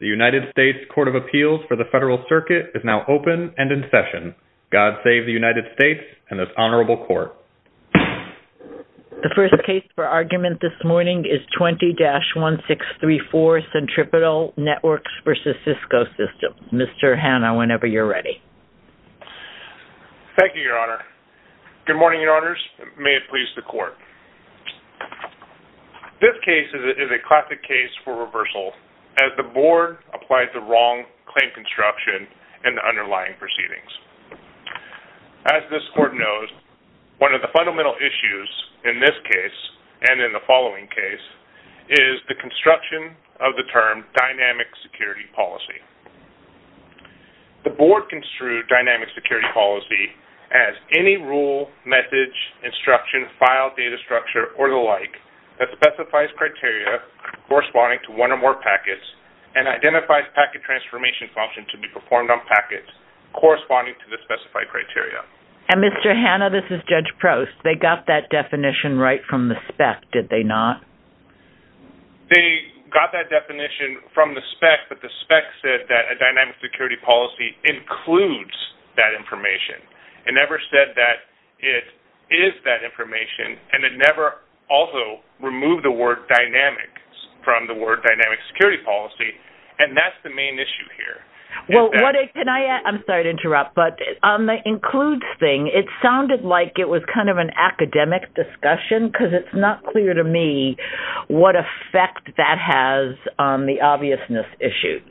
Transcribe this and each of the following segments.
The United States Court of Appeals for the Federal Circuit is now open and in session. God save the United States and this Honorable Court. The first case for argument this morning is 20-1634, Centripetal Networks v. Cisco Systems. Mr. Hanna, whenever you're ready. Thank you, Your Honor. Good morning, Your Honors. May it please the Court. This case is a classic case for reversal as the Board applies the wrong claim construction in the underlying proceedings. As this Court knows, one of the fundamental issues in this case and in the following case is the construction of the term dynamic security policy. The Board construed dynamic security policy as any rule, message, instruction, file, data structure, or the like that specifies criteria corresponding to one or more packets and identifies packet transformation function to be performed on packets corresponding to the specified criteria. And Mr. Hanna, this is Judge Prost. They got that definition right from the spec, did they not? They got that definition from the spec, but the spec said that a dynamic security policy includes that information. It never said that it is that information, and it never also removed the word dynamic from the word dynamic security policy, and that's the main issue here. I'm sorry to interrupt, but on the includes thing, it sounded like it was kind of an academic discussion because it's not clear to me what effect that has on the obviousness issues.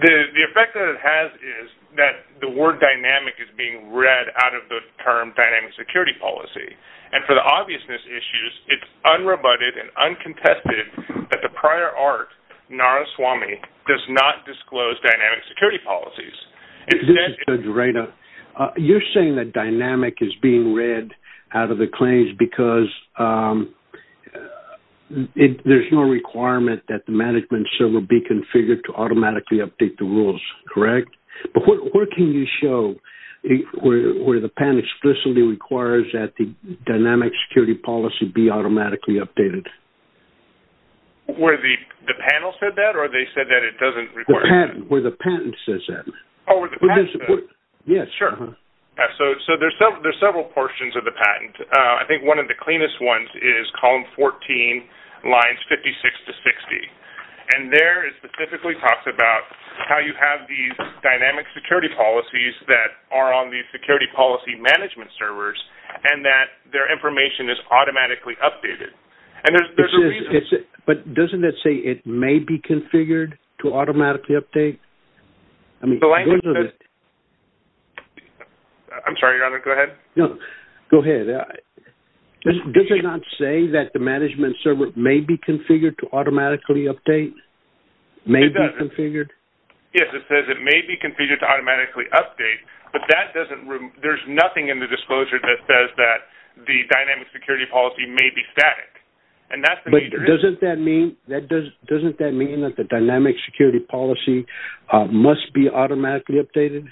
The effect that it has is that the word dynamic is being read out of the term dynamic security policy. And for the obviousness issues, it's unrebutted and uncontested that the prior art, Naraswamy, does not disclose dynamic security policies. This is Judge Reita. You're saying that dynamic is being read out of the claims because there's no requirement that the management server be configured to automatically update the rules, correct? But where can you show where the patent explicitly requires that the dynamic security policy be automatically updated? Where the panel said that, or they said that it doesn't require that? Where the patent says that. Oh, where the patent says that? Yes. Sure. So there's several portions of the patent. I think one of the cleanest ones is column 14, lines 56 to 60. And there it specifically talks about how you have these dynamic security policies that are on the security policy management servers and that their information is automatically updated. But doesn't it say it may be configured to automatically update? I'm sorry, go ahead. No, go ahead. Does it not say that the management server may be configured to automatically update? It doesn't. May be configured? Yes, it says it may be configured to automatically update, but there's nothing in the disclosure that says that the dynamic security policy may be static. But doesn't that mean that the dynamic security policy must be automatically updated?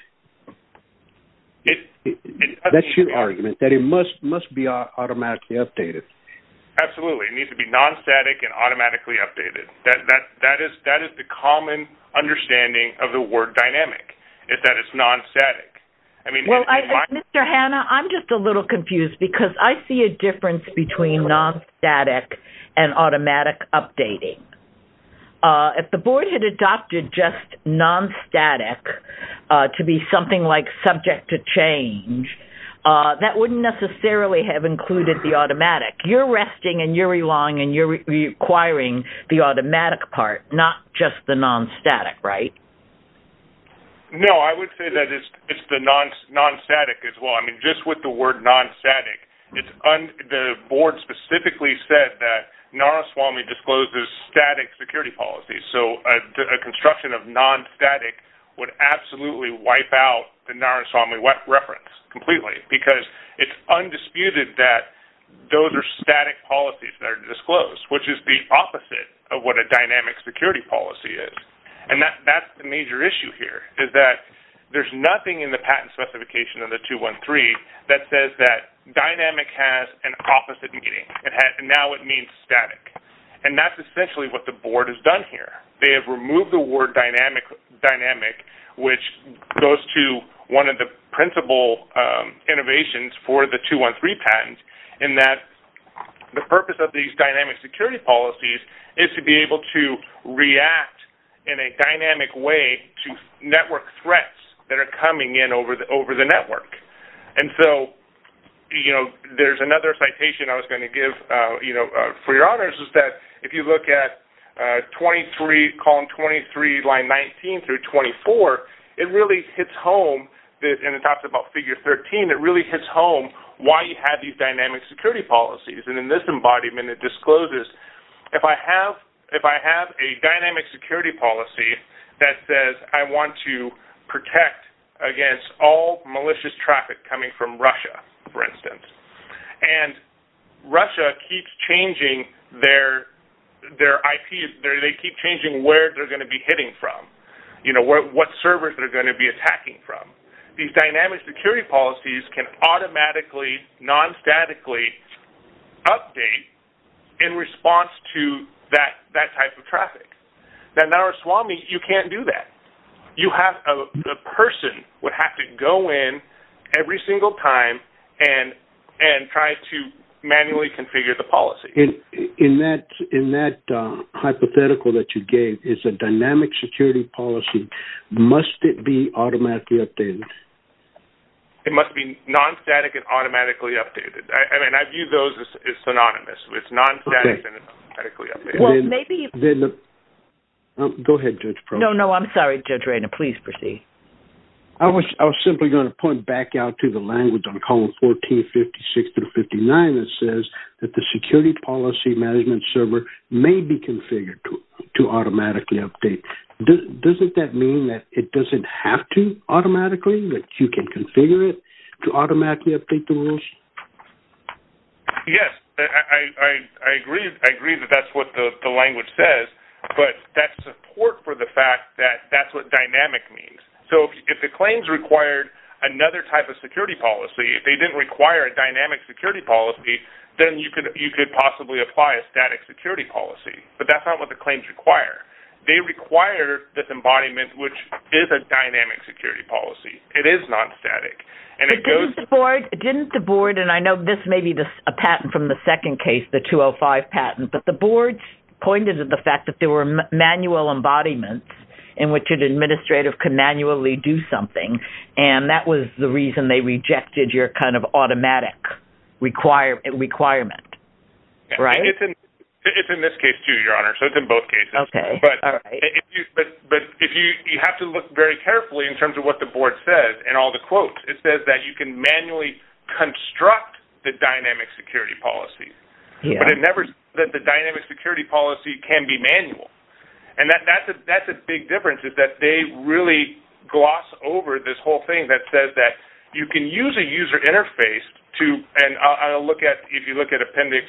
That's your argument, that it must be automatically updated. Absolutely. It needs to be non-static and automatically updated. That is the common understanding of the word dynamic, is that it's non-static. Mr. Hanna, I'm just a little confused because I see a difference between non-static and automatic updating. If the board had adopted just non-static to be something like subject to change, that wouldn't necessarily have included the automatic. You're resting and you're requiring the automatic part, not just the non-static, right? No, I would say that it's the non-static as well. Just with the word non-static, the board specifically said that Naraswamy discloses static security policies. So a construction of non-static would absolutely wipe out the Naraswamy reference completely because it's undisputed that those are static policies that are disclosed, which is the opposite of what a dynamic security policy is. And that's the major issue here, is that there's nothing in the patent specification of the 213 that says that dynamic has an opposite meaning. Now it means static. And that's essentially what the board has done here. They have removed the word dynamic, which goes to one of the principal innovations for the 213 patent, in that the purpose of these dynamic security policies is to be able to react in a dynamic way to network threats that are coming in over the network. And so there's another citation I was going to give for your honors, which is that if you look at 23, column 23, line 19 through 24, it really hits home, and it talks about figure 13, it really hits home why you have these dynamic security policies. And in this embodiment it discloses, if I have a dynamic security policy that says I want to protect against all malicious traffic coming from Russia, for instance, and Russia keeps changing their IP, they keep changing where they're going to be hitting from, what servers they're going to be attacking from. These dynamic security policies can automatically, non-statically update in response to that type of traffic. Now, Naraswamy, you can't do that. A person would have to go in every single time and try to manually configure the policy. In that hypothetical that you gave, is a dynamic security policy, must it be automatically updated? It must be non-static and automatically updated. I mean, I view those as synonymous. It's non-static and automatically updated. Go ahead, Judge Proctor. No, no, I'm sorry, Judge Rayna. Please proceed. I was simply going to point back out to the language on column 14, 56 through 59 that says that the security policy management server may be configured to automatically update. Doesn't that mean that it doesn't have to automatically, that you can configure it to automatically update the rules? Yes, I agree that that's what the language says, but that's support for the fact that that's what dynamic means. So if the claims required another type of security policy, if they didn't require a dynamic security policy, then you could possibly apply a static security policy. But that's not what the claims require. They require this embodiment, which is a dynamic security policy. It is non-static. But didn't the board, and I know this may be a patent from the second case, the 205 patent, but the board pointed to the fact that there were manual embodiments in which an administrative could manually do something, and that was the reason they rejected your kind of automatic requirement, right? It's in this case too, Your Honor, so it's in both cases. Okay, all right. But you have to look very carefully in terms of what the board says and all the quotes. It says that you can manually construct the dynamic security policy, but it never says that the dynamic security policy can be manual. And that's a big difference is that they really gloss over this whole thing that says that you can use a user interface to, and I'll look at, if you look at appendix,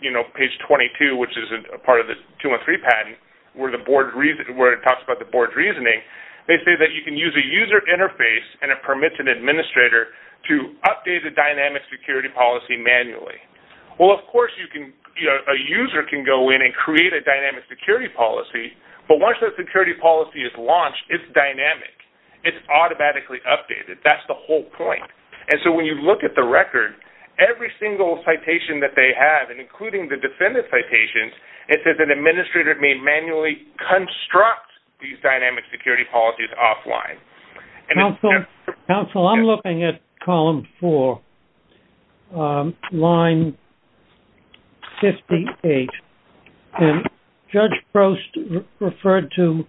you know, page 22, which is a part of the 213 patent, where it talks about the board's reasoning. They say that you can use a user interface and a permitted administrator to update a dynamic security policy manually. Well, of course, you can, you know, a user can go in and create a dynamic security policy, but once that security policy is launched, it's dynamic. It's automatically updated. That's the whole point. And so when you look at the record, every single citation that they have, and including the defendant citations, it says an administrator may manually construct these dynamic security policies offline. Counsel, I'm looking at column four, line 58. And Judge Prost referred to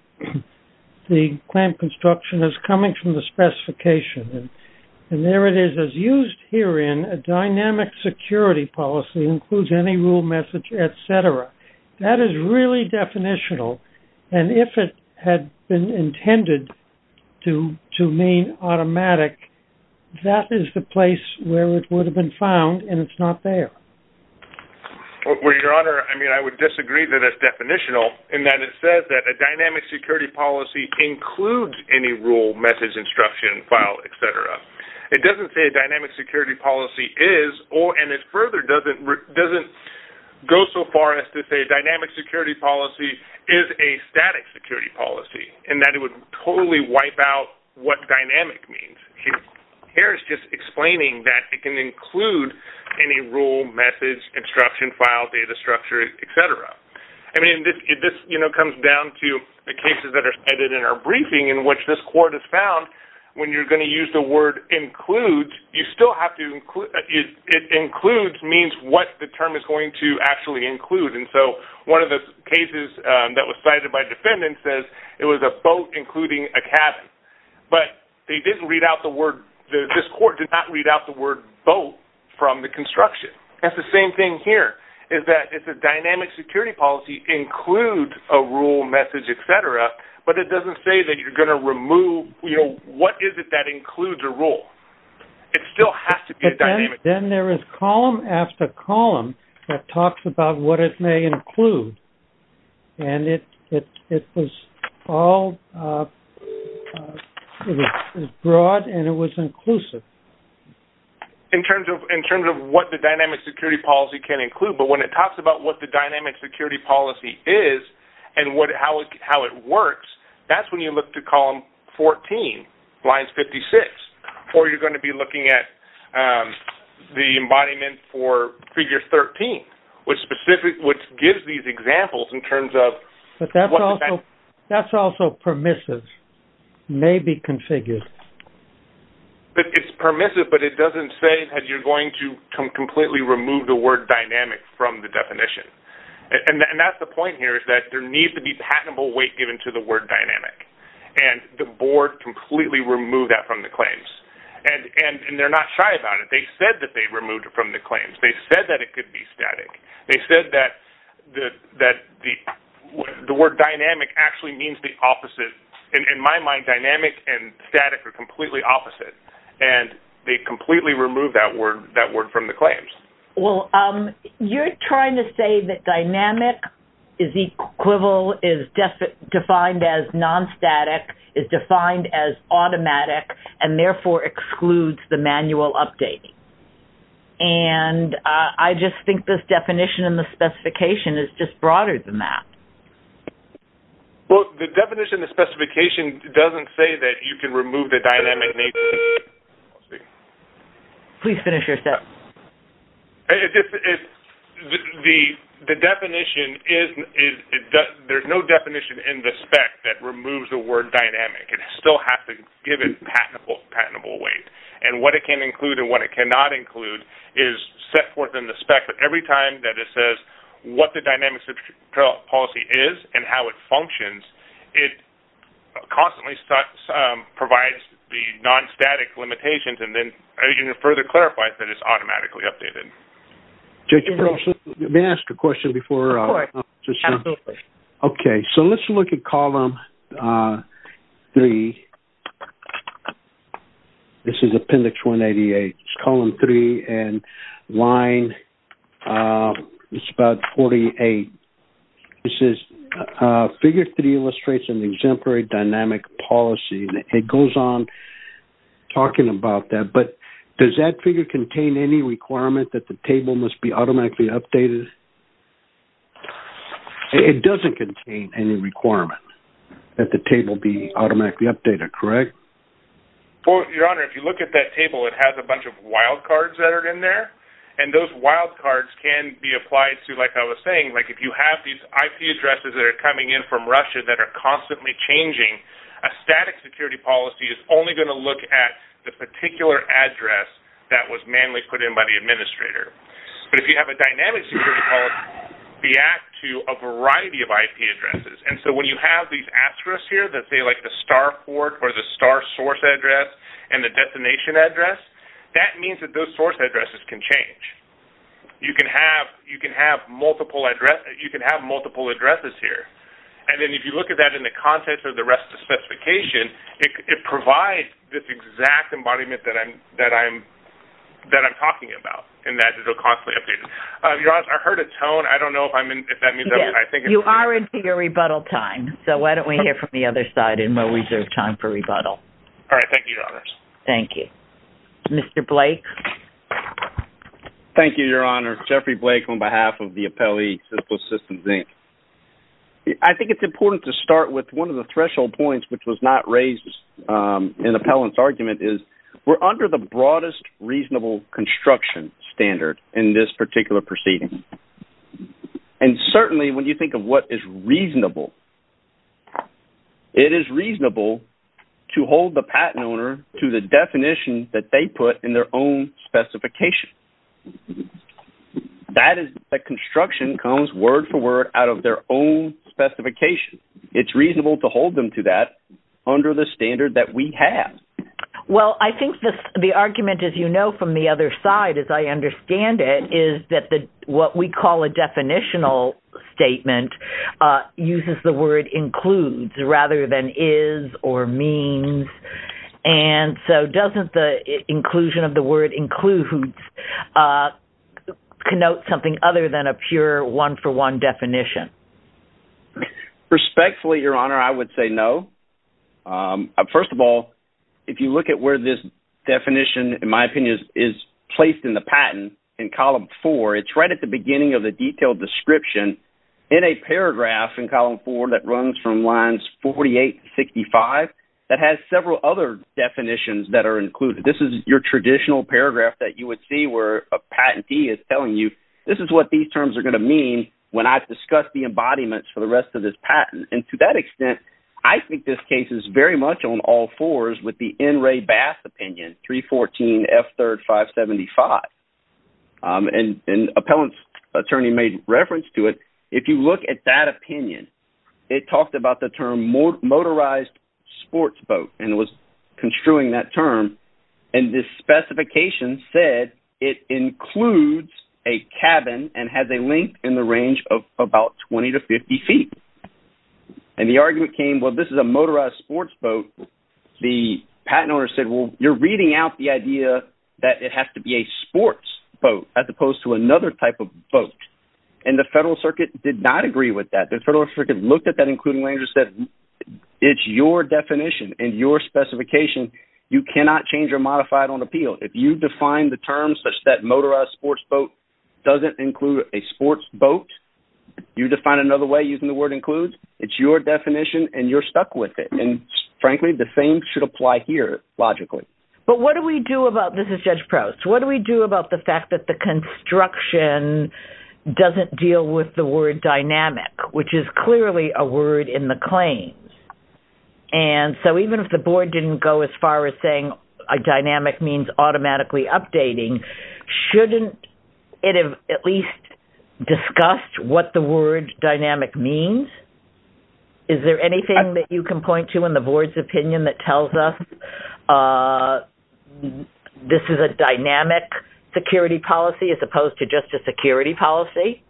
the clamp construction as coming from the specification. And there it is. As used herein, a dynamic security policy includes any rule message, et cetera. That is really definitional. And if it had been intended to mean automatic, that is the place where it would have been found, and it's not there. Well, Your Honor, I mean, I would disagree that it's definitional in that it says that a dynamic security policy includes any rule, message, instruction, file, et cetera. It doesn't say a dynamic security policy is, and it further doesn't go so far as to say a dynamic security policy is a static security policy, and that it would totally wipe out what dynamic means. Here it's just explaining that it can include any rule, message, instruction, file, data structure, et cetera. I mean, this, you know, comes down to the cases that are cited in our briefing in which this court has found when you're going to use the word includes, you still have to – it includes means what the term is going to actually include. And so one of the cases that was cited by defendants says it was a boat including a cabin. But they didn't read out the word – this court did not read out the word boat from the construction. That's the same thing here, is that it's a dynamic security policy includes a rule, message, et cetera, but it doesn't say that you're going to remove – you know, what is it that includes a rule? It still has to be a dynamic – But then there is column after column that talks about what it may include, and it was all – it was broad and it was inclusive. In terms of what the dynamic security policy can include, but when it talks about what the dynamic security policy is and how it works, that's when you look to column 14, lines 56. Or you're going to be looking at the embodiment for figure 13, which gives these examples in terms of – But that's also permissive, may be configured. It's permissive, but it doesn't say that you're going to completely remove the word dynamic from the definition. And that's the point here, is that there needs to be patentable weight given to the word dynamic. And the board completely removed that from the claims. And they're not shy about it. They said that they removed it from the claims. They said that it could be static. They said that the word dynamic actually means the opposite. In my mind, dynamic and static are completely opposite. And they completely removed that word from the claims. Well, you're trying to say that dynamic is equivalent – is defined as non-static, is defined as automatic, and therefore excludes the manual updating. And I just think this definition and the specification is just broader than that. Well, the definition and the specification doesn't say that you can remove the dynamic name. Please finish your sentence. The definition is – there's no definition in the spec that removes the word dynamic. It still has to give it patentable weight. And what it can include and what it cannot include is set forth in the spec. But every time that it says what the dynamic policy is and how it functions, it constantly provides the non-static limitations and then further clarifies that it's automatically updated. May I ask a question before? Of course. Absolutely. Okay. So let's look at column three. This is appendix 188. It's column three and line – it's about 48. This is – figure three illustrates an exemplary dynamic policy. It goes on talking about that. But does that figure contain any requirement that the table must be automatically updated? It doesn't contain any requirement that the table be automatically updated, correct? Well, Your Honor, if you look at that table, it has a bunch of wildcards that are in there. And those wildcards can be applied to, like I was saying, like if you have these IP addresses that are coming in from Russia that are constantly changing, a static security policy is only going to look at the particular address that was manually put in by the administrator. But if you have a dynamic security policy, they act to a variety of IP addresses. And so when you have these asterisks here that say like the star port or the star source address and the destination address, that means that those source addresses can change. You can have multiple addresses here. And then if you look at that in the contents of the rest of the specification, it provides this exact embodiment that I'm talking about, and that it will constantly update it. Your Honor, I heard a tone. I don't know if that means – You are into your rebuttal time. So why don't we hear from the other side and we'll reserve time for rebuttal. All right. Thank you, Your Honors. Thank you. Mr. Blake? Thank you, Your Honor. Jeffrey Blake on behalf of the appellee, Cisco Systems, Inc. I think it's important to start with one of the threshold points, which was not raised in the appellant's argument, is we're under the broadest reasonable construction standard in this particular proceeding. And certainly when you think of what is reasonable, it is reasonable to hold the patent owner to the definition that they put in their own specification. That is the construction comes word for word out of their own specification. It's reasonable to hold them to that under the standard that we have. Well, I think the argument, as you know from the other side, as I understand it, is that what we call a definitional statement uses the word includes rather than is or means. And so doesn't the inclusion of the word includes connote something other than a pure one-for-one definition? Respectfully, Your Honor, I would say no. First of all, if you look at where this definition, in my opinion, is placed in the patent in column four, it's right at the beginning of the detailed description in a paragraph in column four that runs from lines 48 to 65 that has several other definitions that are included. This is your traditional paragraph that you would see where a patentee is telling you, this is what these terms are going to mean when I've discussed the embodiments for the rest of this patent. And to that extent, I think this case is very much on all fours with the N. Ray Bass opinion, 314 F. 3rd 575. And an appellant's attorney made reference to it. If you look at that opinion, it talked about the term motorized sports boat and was construing that term. And this specification said it includes a cabin and has a length in the range of about 20 to 50 feet. And the argument came, well, this is a motorized sports boat. The patent owner said, well, you're reading out the idea that it has to be a sports boat as opposed to another type of boat. And the Federal Circuit did not agree with that. The Federal Circuit looked at that including language and said, it's your definition and your specification. You cannot change or modify it on appeal. If you define the term such that motorized sports boat doesn't include a sports boat, you define another way using the word includes. It's your definition and you're stuck with it. And frankly, the same should apply here logically. But what do we do about, this is Judge Proust. What do we do about the fact that the construction doesn't deal with the word dynamic, which is clearly a word in the claims. And so even if the board didn't go as far as saying a dynamic means automatically updating, shouldn't it have at least discussed what the word dynamic means? Is there anything that you can point to in the board's opinion that tells us this is a dynamic security policy as opposed to just a security policy?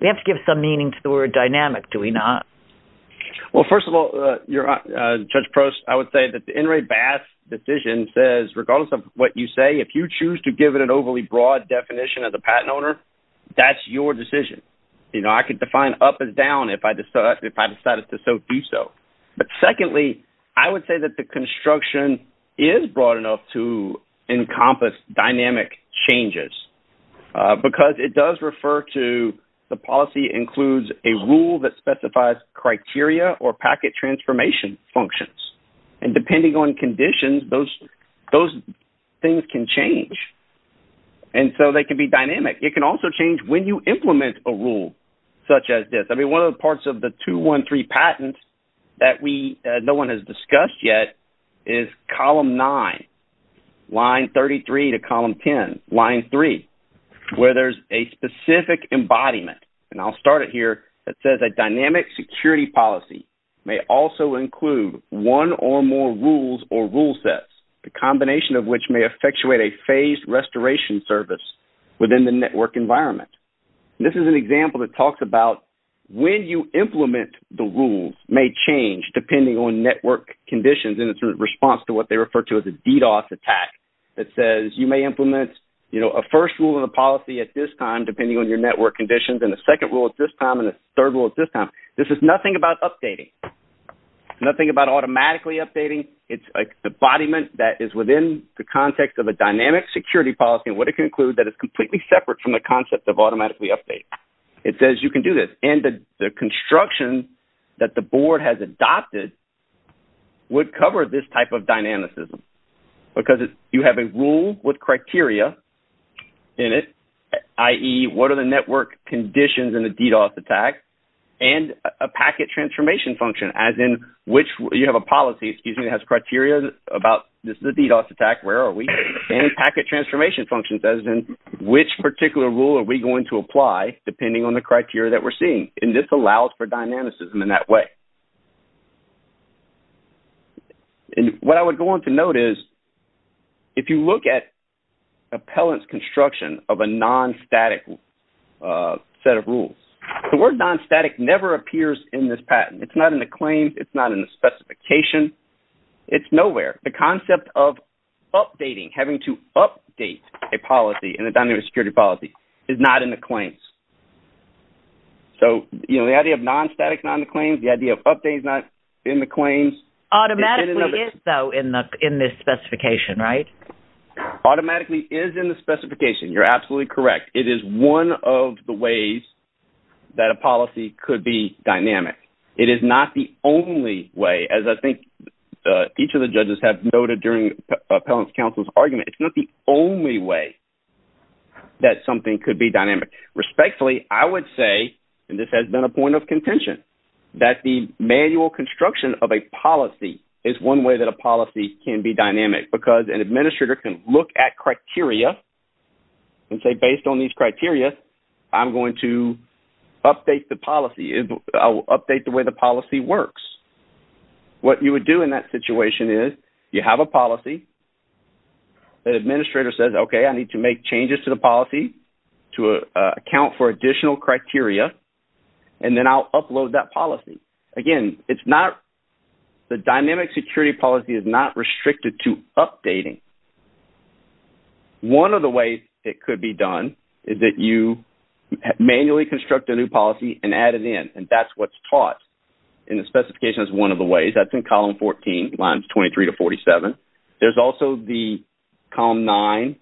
We have to give some meaning to the word dynamic, do we not? Well, first of all, Judge Proust, I would say that the In re Basque decision says regardless of what you say, if you choose to give it an overly broad definition as a patent owner, that's your decision. I could define up and down if I decided to so do so. But secondly, I would say that the construction is broad enough to encompass dynamic changes. Because it does refer to the policy includes a rule that specifies criteria or packet transformation functions. And depending on conditions, those things can change. And so they can be dynamic. It can also change when you implement a rule such as this. One of the parts of the 213 patent that no one has discussed yet is column 9, line 33 to column 10, line 3, where there's a specific embodiment. And I'll start it here. It says a dynamic security policy may also include one or more rules or rule sets, the combination of which may effectuate a phased restoration service within the network environment. And this is an example that talks about when you implement the rules may change depending on network conditions. And it's a response to what they refer to as a DDoS attack that says you may implement, you know, a first rule of the policy at this time depending on your network conditions, and a second rule at this time, and a third rule at this time. This is nothing about updating, nothing about automatically updating. It's an embodiment that is within the context of a dynamic security policy. And what it can include that is completely separate from the concept of automatically updating. It says you can do this. And the construction that the board has adopted would cover this type of dynamicism because you have a rule with criteria in it, i.e., what are the network conditions in a DDoS attack, and a packet transformation function, as in which you have a policy, excuse me, that has criteria about this is a DDoS attack, where are we, and packet transformation functions as in which particular rule are we going to apply depending on the criteria that we're seeing. And this allows for dynamicism in that way. And what I would go on to note is if you look at appellant's construction of a non-static set of rules, the word non-static never appears in this patent. It's not in the claims. It's not in the specification. It's nowhere. The concept of updating, having to update a policy in a dynamic security policy is not in the claims. So, you know, the idea of non-static is not in the claims. The idea of updating is not in the claims. Automatically is, though, in this specification, right? Automatically is in the specification. You're absolutely correct. It is one of the ways that a policy could be dynamic. It is not the only way, as I think each of the judges have noted during appellant's counsel's argument, it's not the only way that something could be dynamic. Respectfully, I would say, and this has been a point of contention, that the manual construction of a policy is one way that a policy can be dynamic because an administrator can look at criteria and say, based on these criteria, I'm going to update the policy. I'll update the way the policy works. What you would do in that situation is you have a policy, the administrator says, okay, I need to make changes to the policy to account for additional criteria, and then I'll upload that policy. Again, it's not the dynamic security policy is not restricted to updating. One of the ways it could be done is that you manually construct a new policy and add it in, and that's what's taught in the specification is one of the ways. That's in column 14, lines 23 to 47. There's also the column nine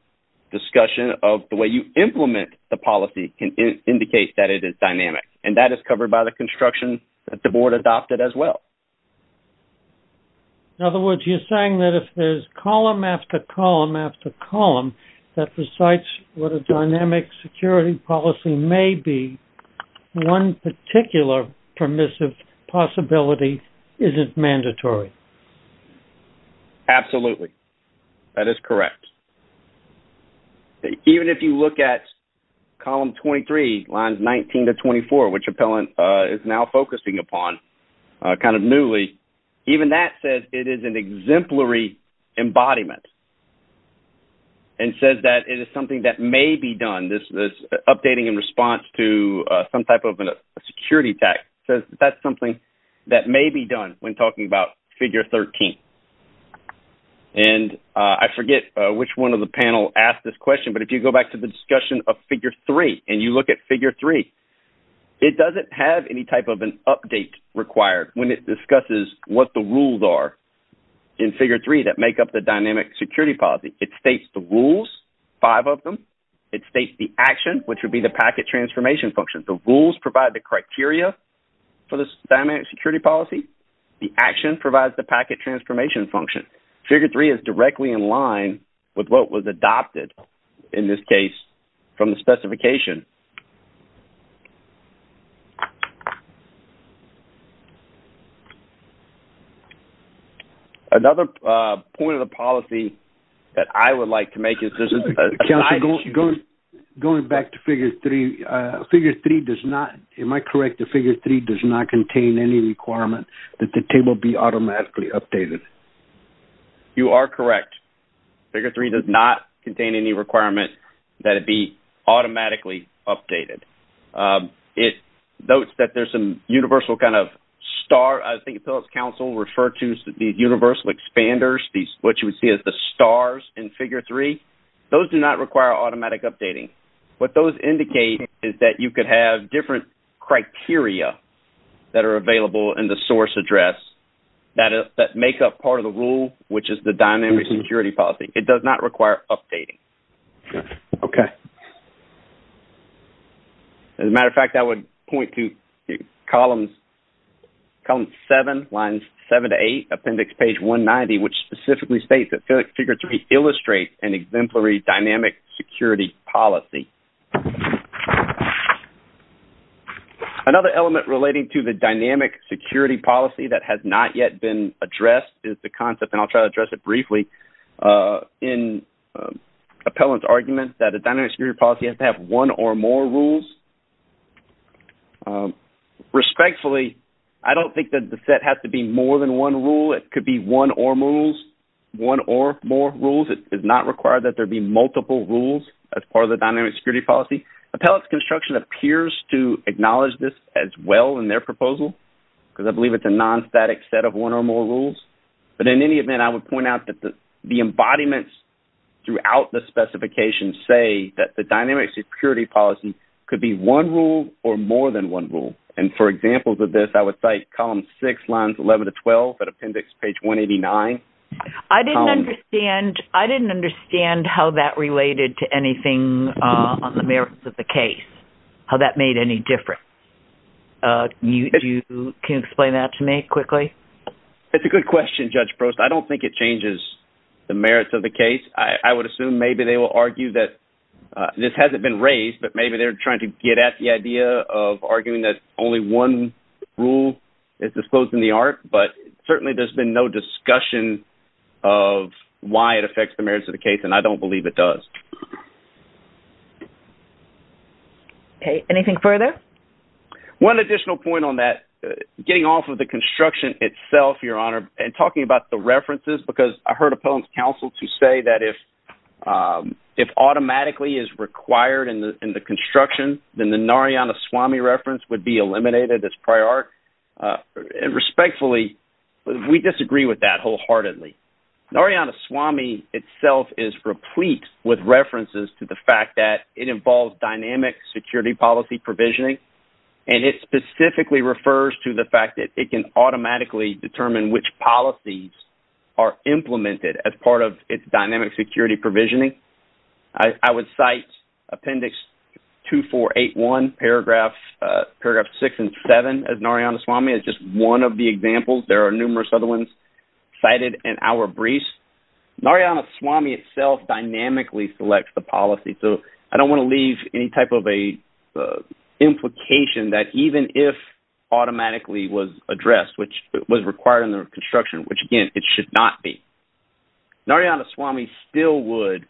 discussion of the way you implement the policy can indicate that it is dynamic, and that is covered by the construction that the board adopted as well. In other words, you're saying that if there's column after column after column, that besides what a dynamic security policy may be, one particular permissive possibility isn't mandatory. Absolutely. That is correct. Even if you look at column 23, lines 19 to 24, which Appellant is now focusing upon kind of newly, even that says it is an exemplary embodiment and says that it is something that may be done, this updating in response to some type of a security attack, says that that's something that may be done when talking about figure 13. I forget which one of the panel asked this question, but if you go back to the discussion of figure 3 and you look at figure 3, it doesn't have any type of an update required when it discusses what the rules are in figure 3 that make up the dynamic security policy. It states the rules, five of them. It states the action, which would be the packet transformation function. The rules provide the criteria for this dynamic security policy. The action provides the packet transformation function. Figure 3 is directly in line with what was adopted, in this case, from the specification. Another point of the policy that I would like to make is this is a side issue. Going back to figure 3, figure 3 does not, am I correct, that figure 3 does not contain any requirement that the table be automatically updated? You are correct. Figure 3 does not contain any requirement that it be automatically updated. It notes that there's some universal kind of star, I think Appellant's counsel referred to as the universal expanders, what you would see as the stars in figure 3. Those do not require automatic updating. What those indicate is that you could have different criteria that are available in the source address that make up part of the rule, which is the dynamic security policy. It does not require updating. As a matter of fact, I would point to column 7, lines 7 to 8, appendix page 190, which specifically states that figure 3 illustrates an exemplary dynamic security policy. Another element relating to the dynamic security policy that has not yet been addressed is the concept, and I'll try to address it briefly, in Appellant's argument that a dynamic security policy has to have one or more rules. Respectfully, I don't think that the set has to be more than one rule. It could be one or more rules. It does not require that there be multiple rules as part of the dynamic security policy. Appellant's construction appears to acknowledge this as well in their proposal because I believe it's a non-static set of one or more rules. But in any event, I would point out that the embodiments throughout the specifications say that the dynamic security policy could be one rule or more than one rule. And for examples of this, I would cite column 6, lines 11 to 12, appendix page 189. I didn't understand how that related to anything on the merits of the case, how that made any difference. Can you explain that to me quickly? That's a good question, Judge Prost. I don't think it changes the merits of the case. I would assume maybe they will argue that this hasn't been raised, but maybe they're trying to get at the idea of arguing that only one rule is disclosed in the art. But certainly there's been no discussion of why it affects the merits of the case, and I don't believe it does. Anything further? One additional point on that, getting off of the construction itself, Your Honor, and talking about the references because I heard Appellant's counsel to say that if automatically is required in the construction, then the Narayana Swamy reference would be eliminated as prior art. And respectfully, we disagree with that wholeheartedly. Narayana Swamy itself is replete with references to the fact that it involves dynamic security policy provisioning, and it specifically refers to the fact that it can automatically determine which policies are implemented as part of its dynamic security provisioning. I would cite Appendix 2481, Paragraphs 6 and 7 of Narayana Swamy as just one of the examples. There are numerous other ones cited in our briefs. Narayana Swamy itself dynamically selects the policy, so I don't want to leave any type of an implication that even if automatically was addressed, which was required in the construction, which, again, it should not be, Narayana Swamy still would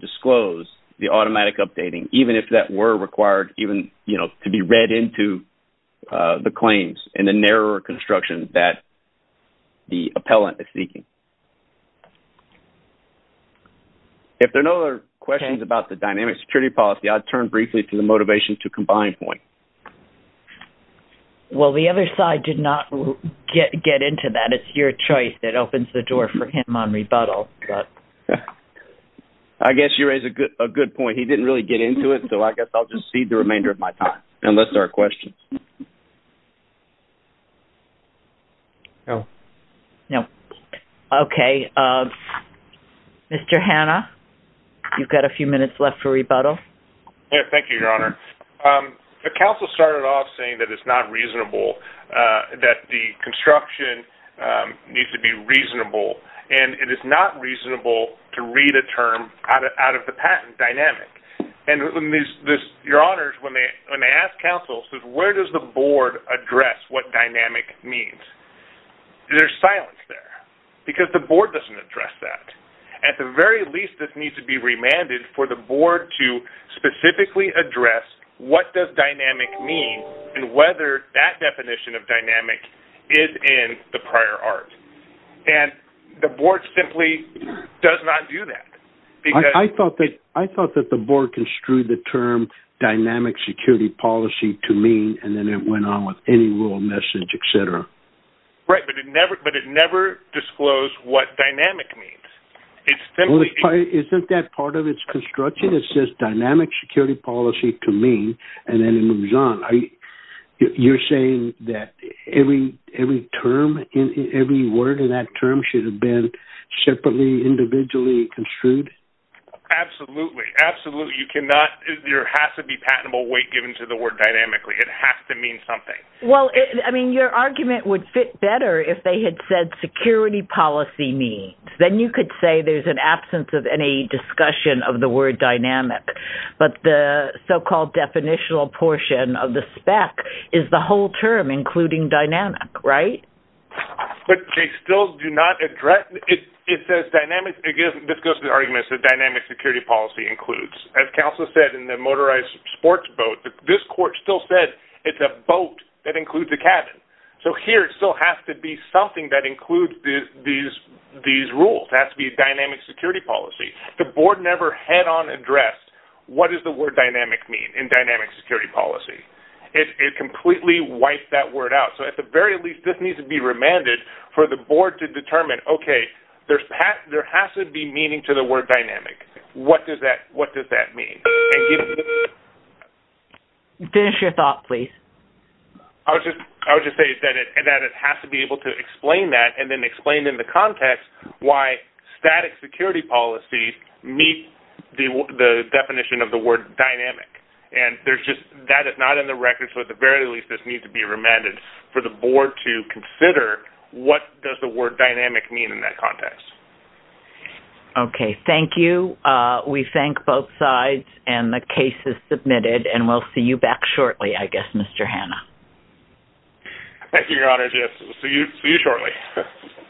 disclose the automatic updating, even if that were required, even to be read into the claims and the narrower construction that the Appellant is seeking. If there are no other questions about the dynamic security policy, I'd turn briefly to the motivation to combine point. Well, the other side did not get into that. It's your choice that opens the door for him on rebuttal. I guess you raise a good point. He didn't really get into it, so I guess I'll just cede the remainder of my time, unless there are questions. No. No. Okay. Mr. Hanna, you've got a few minutes left for rebuttal. Yes, thank you, Your Honor. The counsel started off saying that it's not reasonable, that the construction needs to be reasonable, and it is not reasonable to read a term out of the patent dynamic. And, Your Honors, when they ask counsels, where does the board address what dynamic means? There's silence there, because the board doesn't address that. At the very least, this needs to be remanded for the board to specifically address what does dynamic mean and whether that definition of dynamic is in the prior art. And the board simply does not do that. I thought that the board construed the term dynamic security policy to mean, and then it went on with any rule of message, et cetera. Right, but it never disclosed what dynamic means. Isn't that part of its construction? It says dynamic security policy to mean, and then it moves on. You're saying that every word in that term should have been separately, individually construed? Absolutely. Absolutely. There has to be patentable weight given to the word dynamically. It has to mean something. Well, I mean, your argument would fit better if they had said security policy means. Then you could say there's an absence of any discussion of the word dynamic. But the so-called definitional portion of the spec is the whole term including dynamic, right? But they still do not address it. It says dynamic. Again, this goes to the argument that dynamic security policy includes. As counsel said in the motorized sports boat, this court still said it's a boat that includes a cabin. So here it still has to be something that includes these rules. It has to be dynamic security policy. The board never head-on addressed what does the word dynamic mean in dynamic security policy. It completely wiped that word out. So at the very least, this needs to be remanded for the board to determine, okay, there has to be meaning to the word dynamic. What does that mean? Finish your thought, please. I would just say that it has to be able to explain that and then explain in the context why static security policy meets the definition of the word dynamic. And that is not in the record. So at the very least, this needs to be remanded for the board to consider what does the word dynamic mean in that context. Okay, thank you. We thank both sides, and the case is submitted. And we'll see you back shortly, I guess, Mr. Hanna. Thank you, Your Honor. Yes, we'll see you shortly.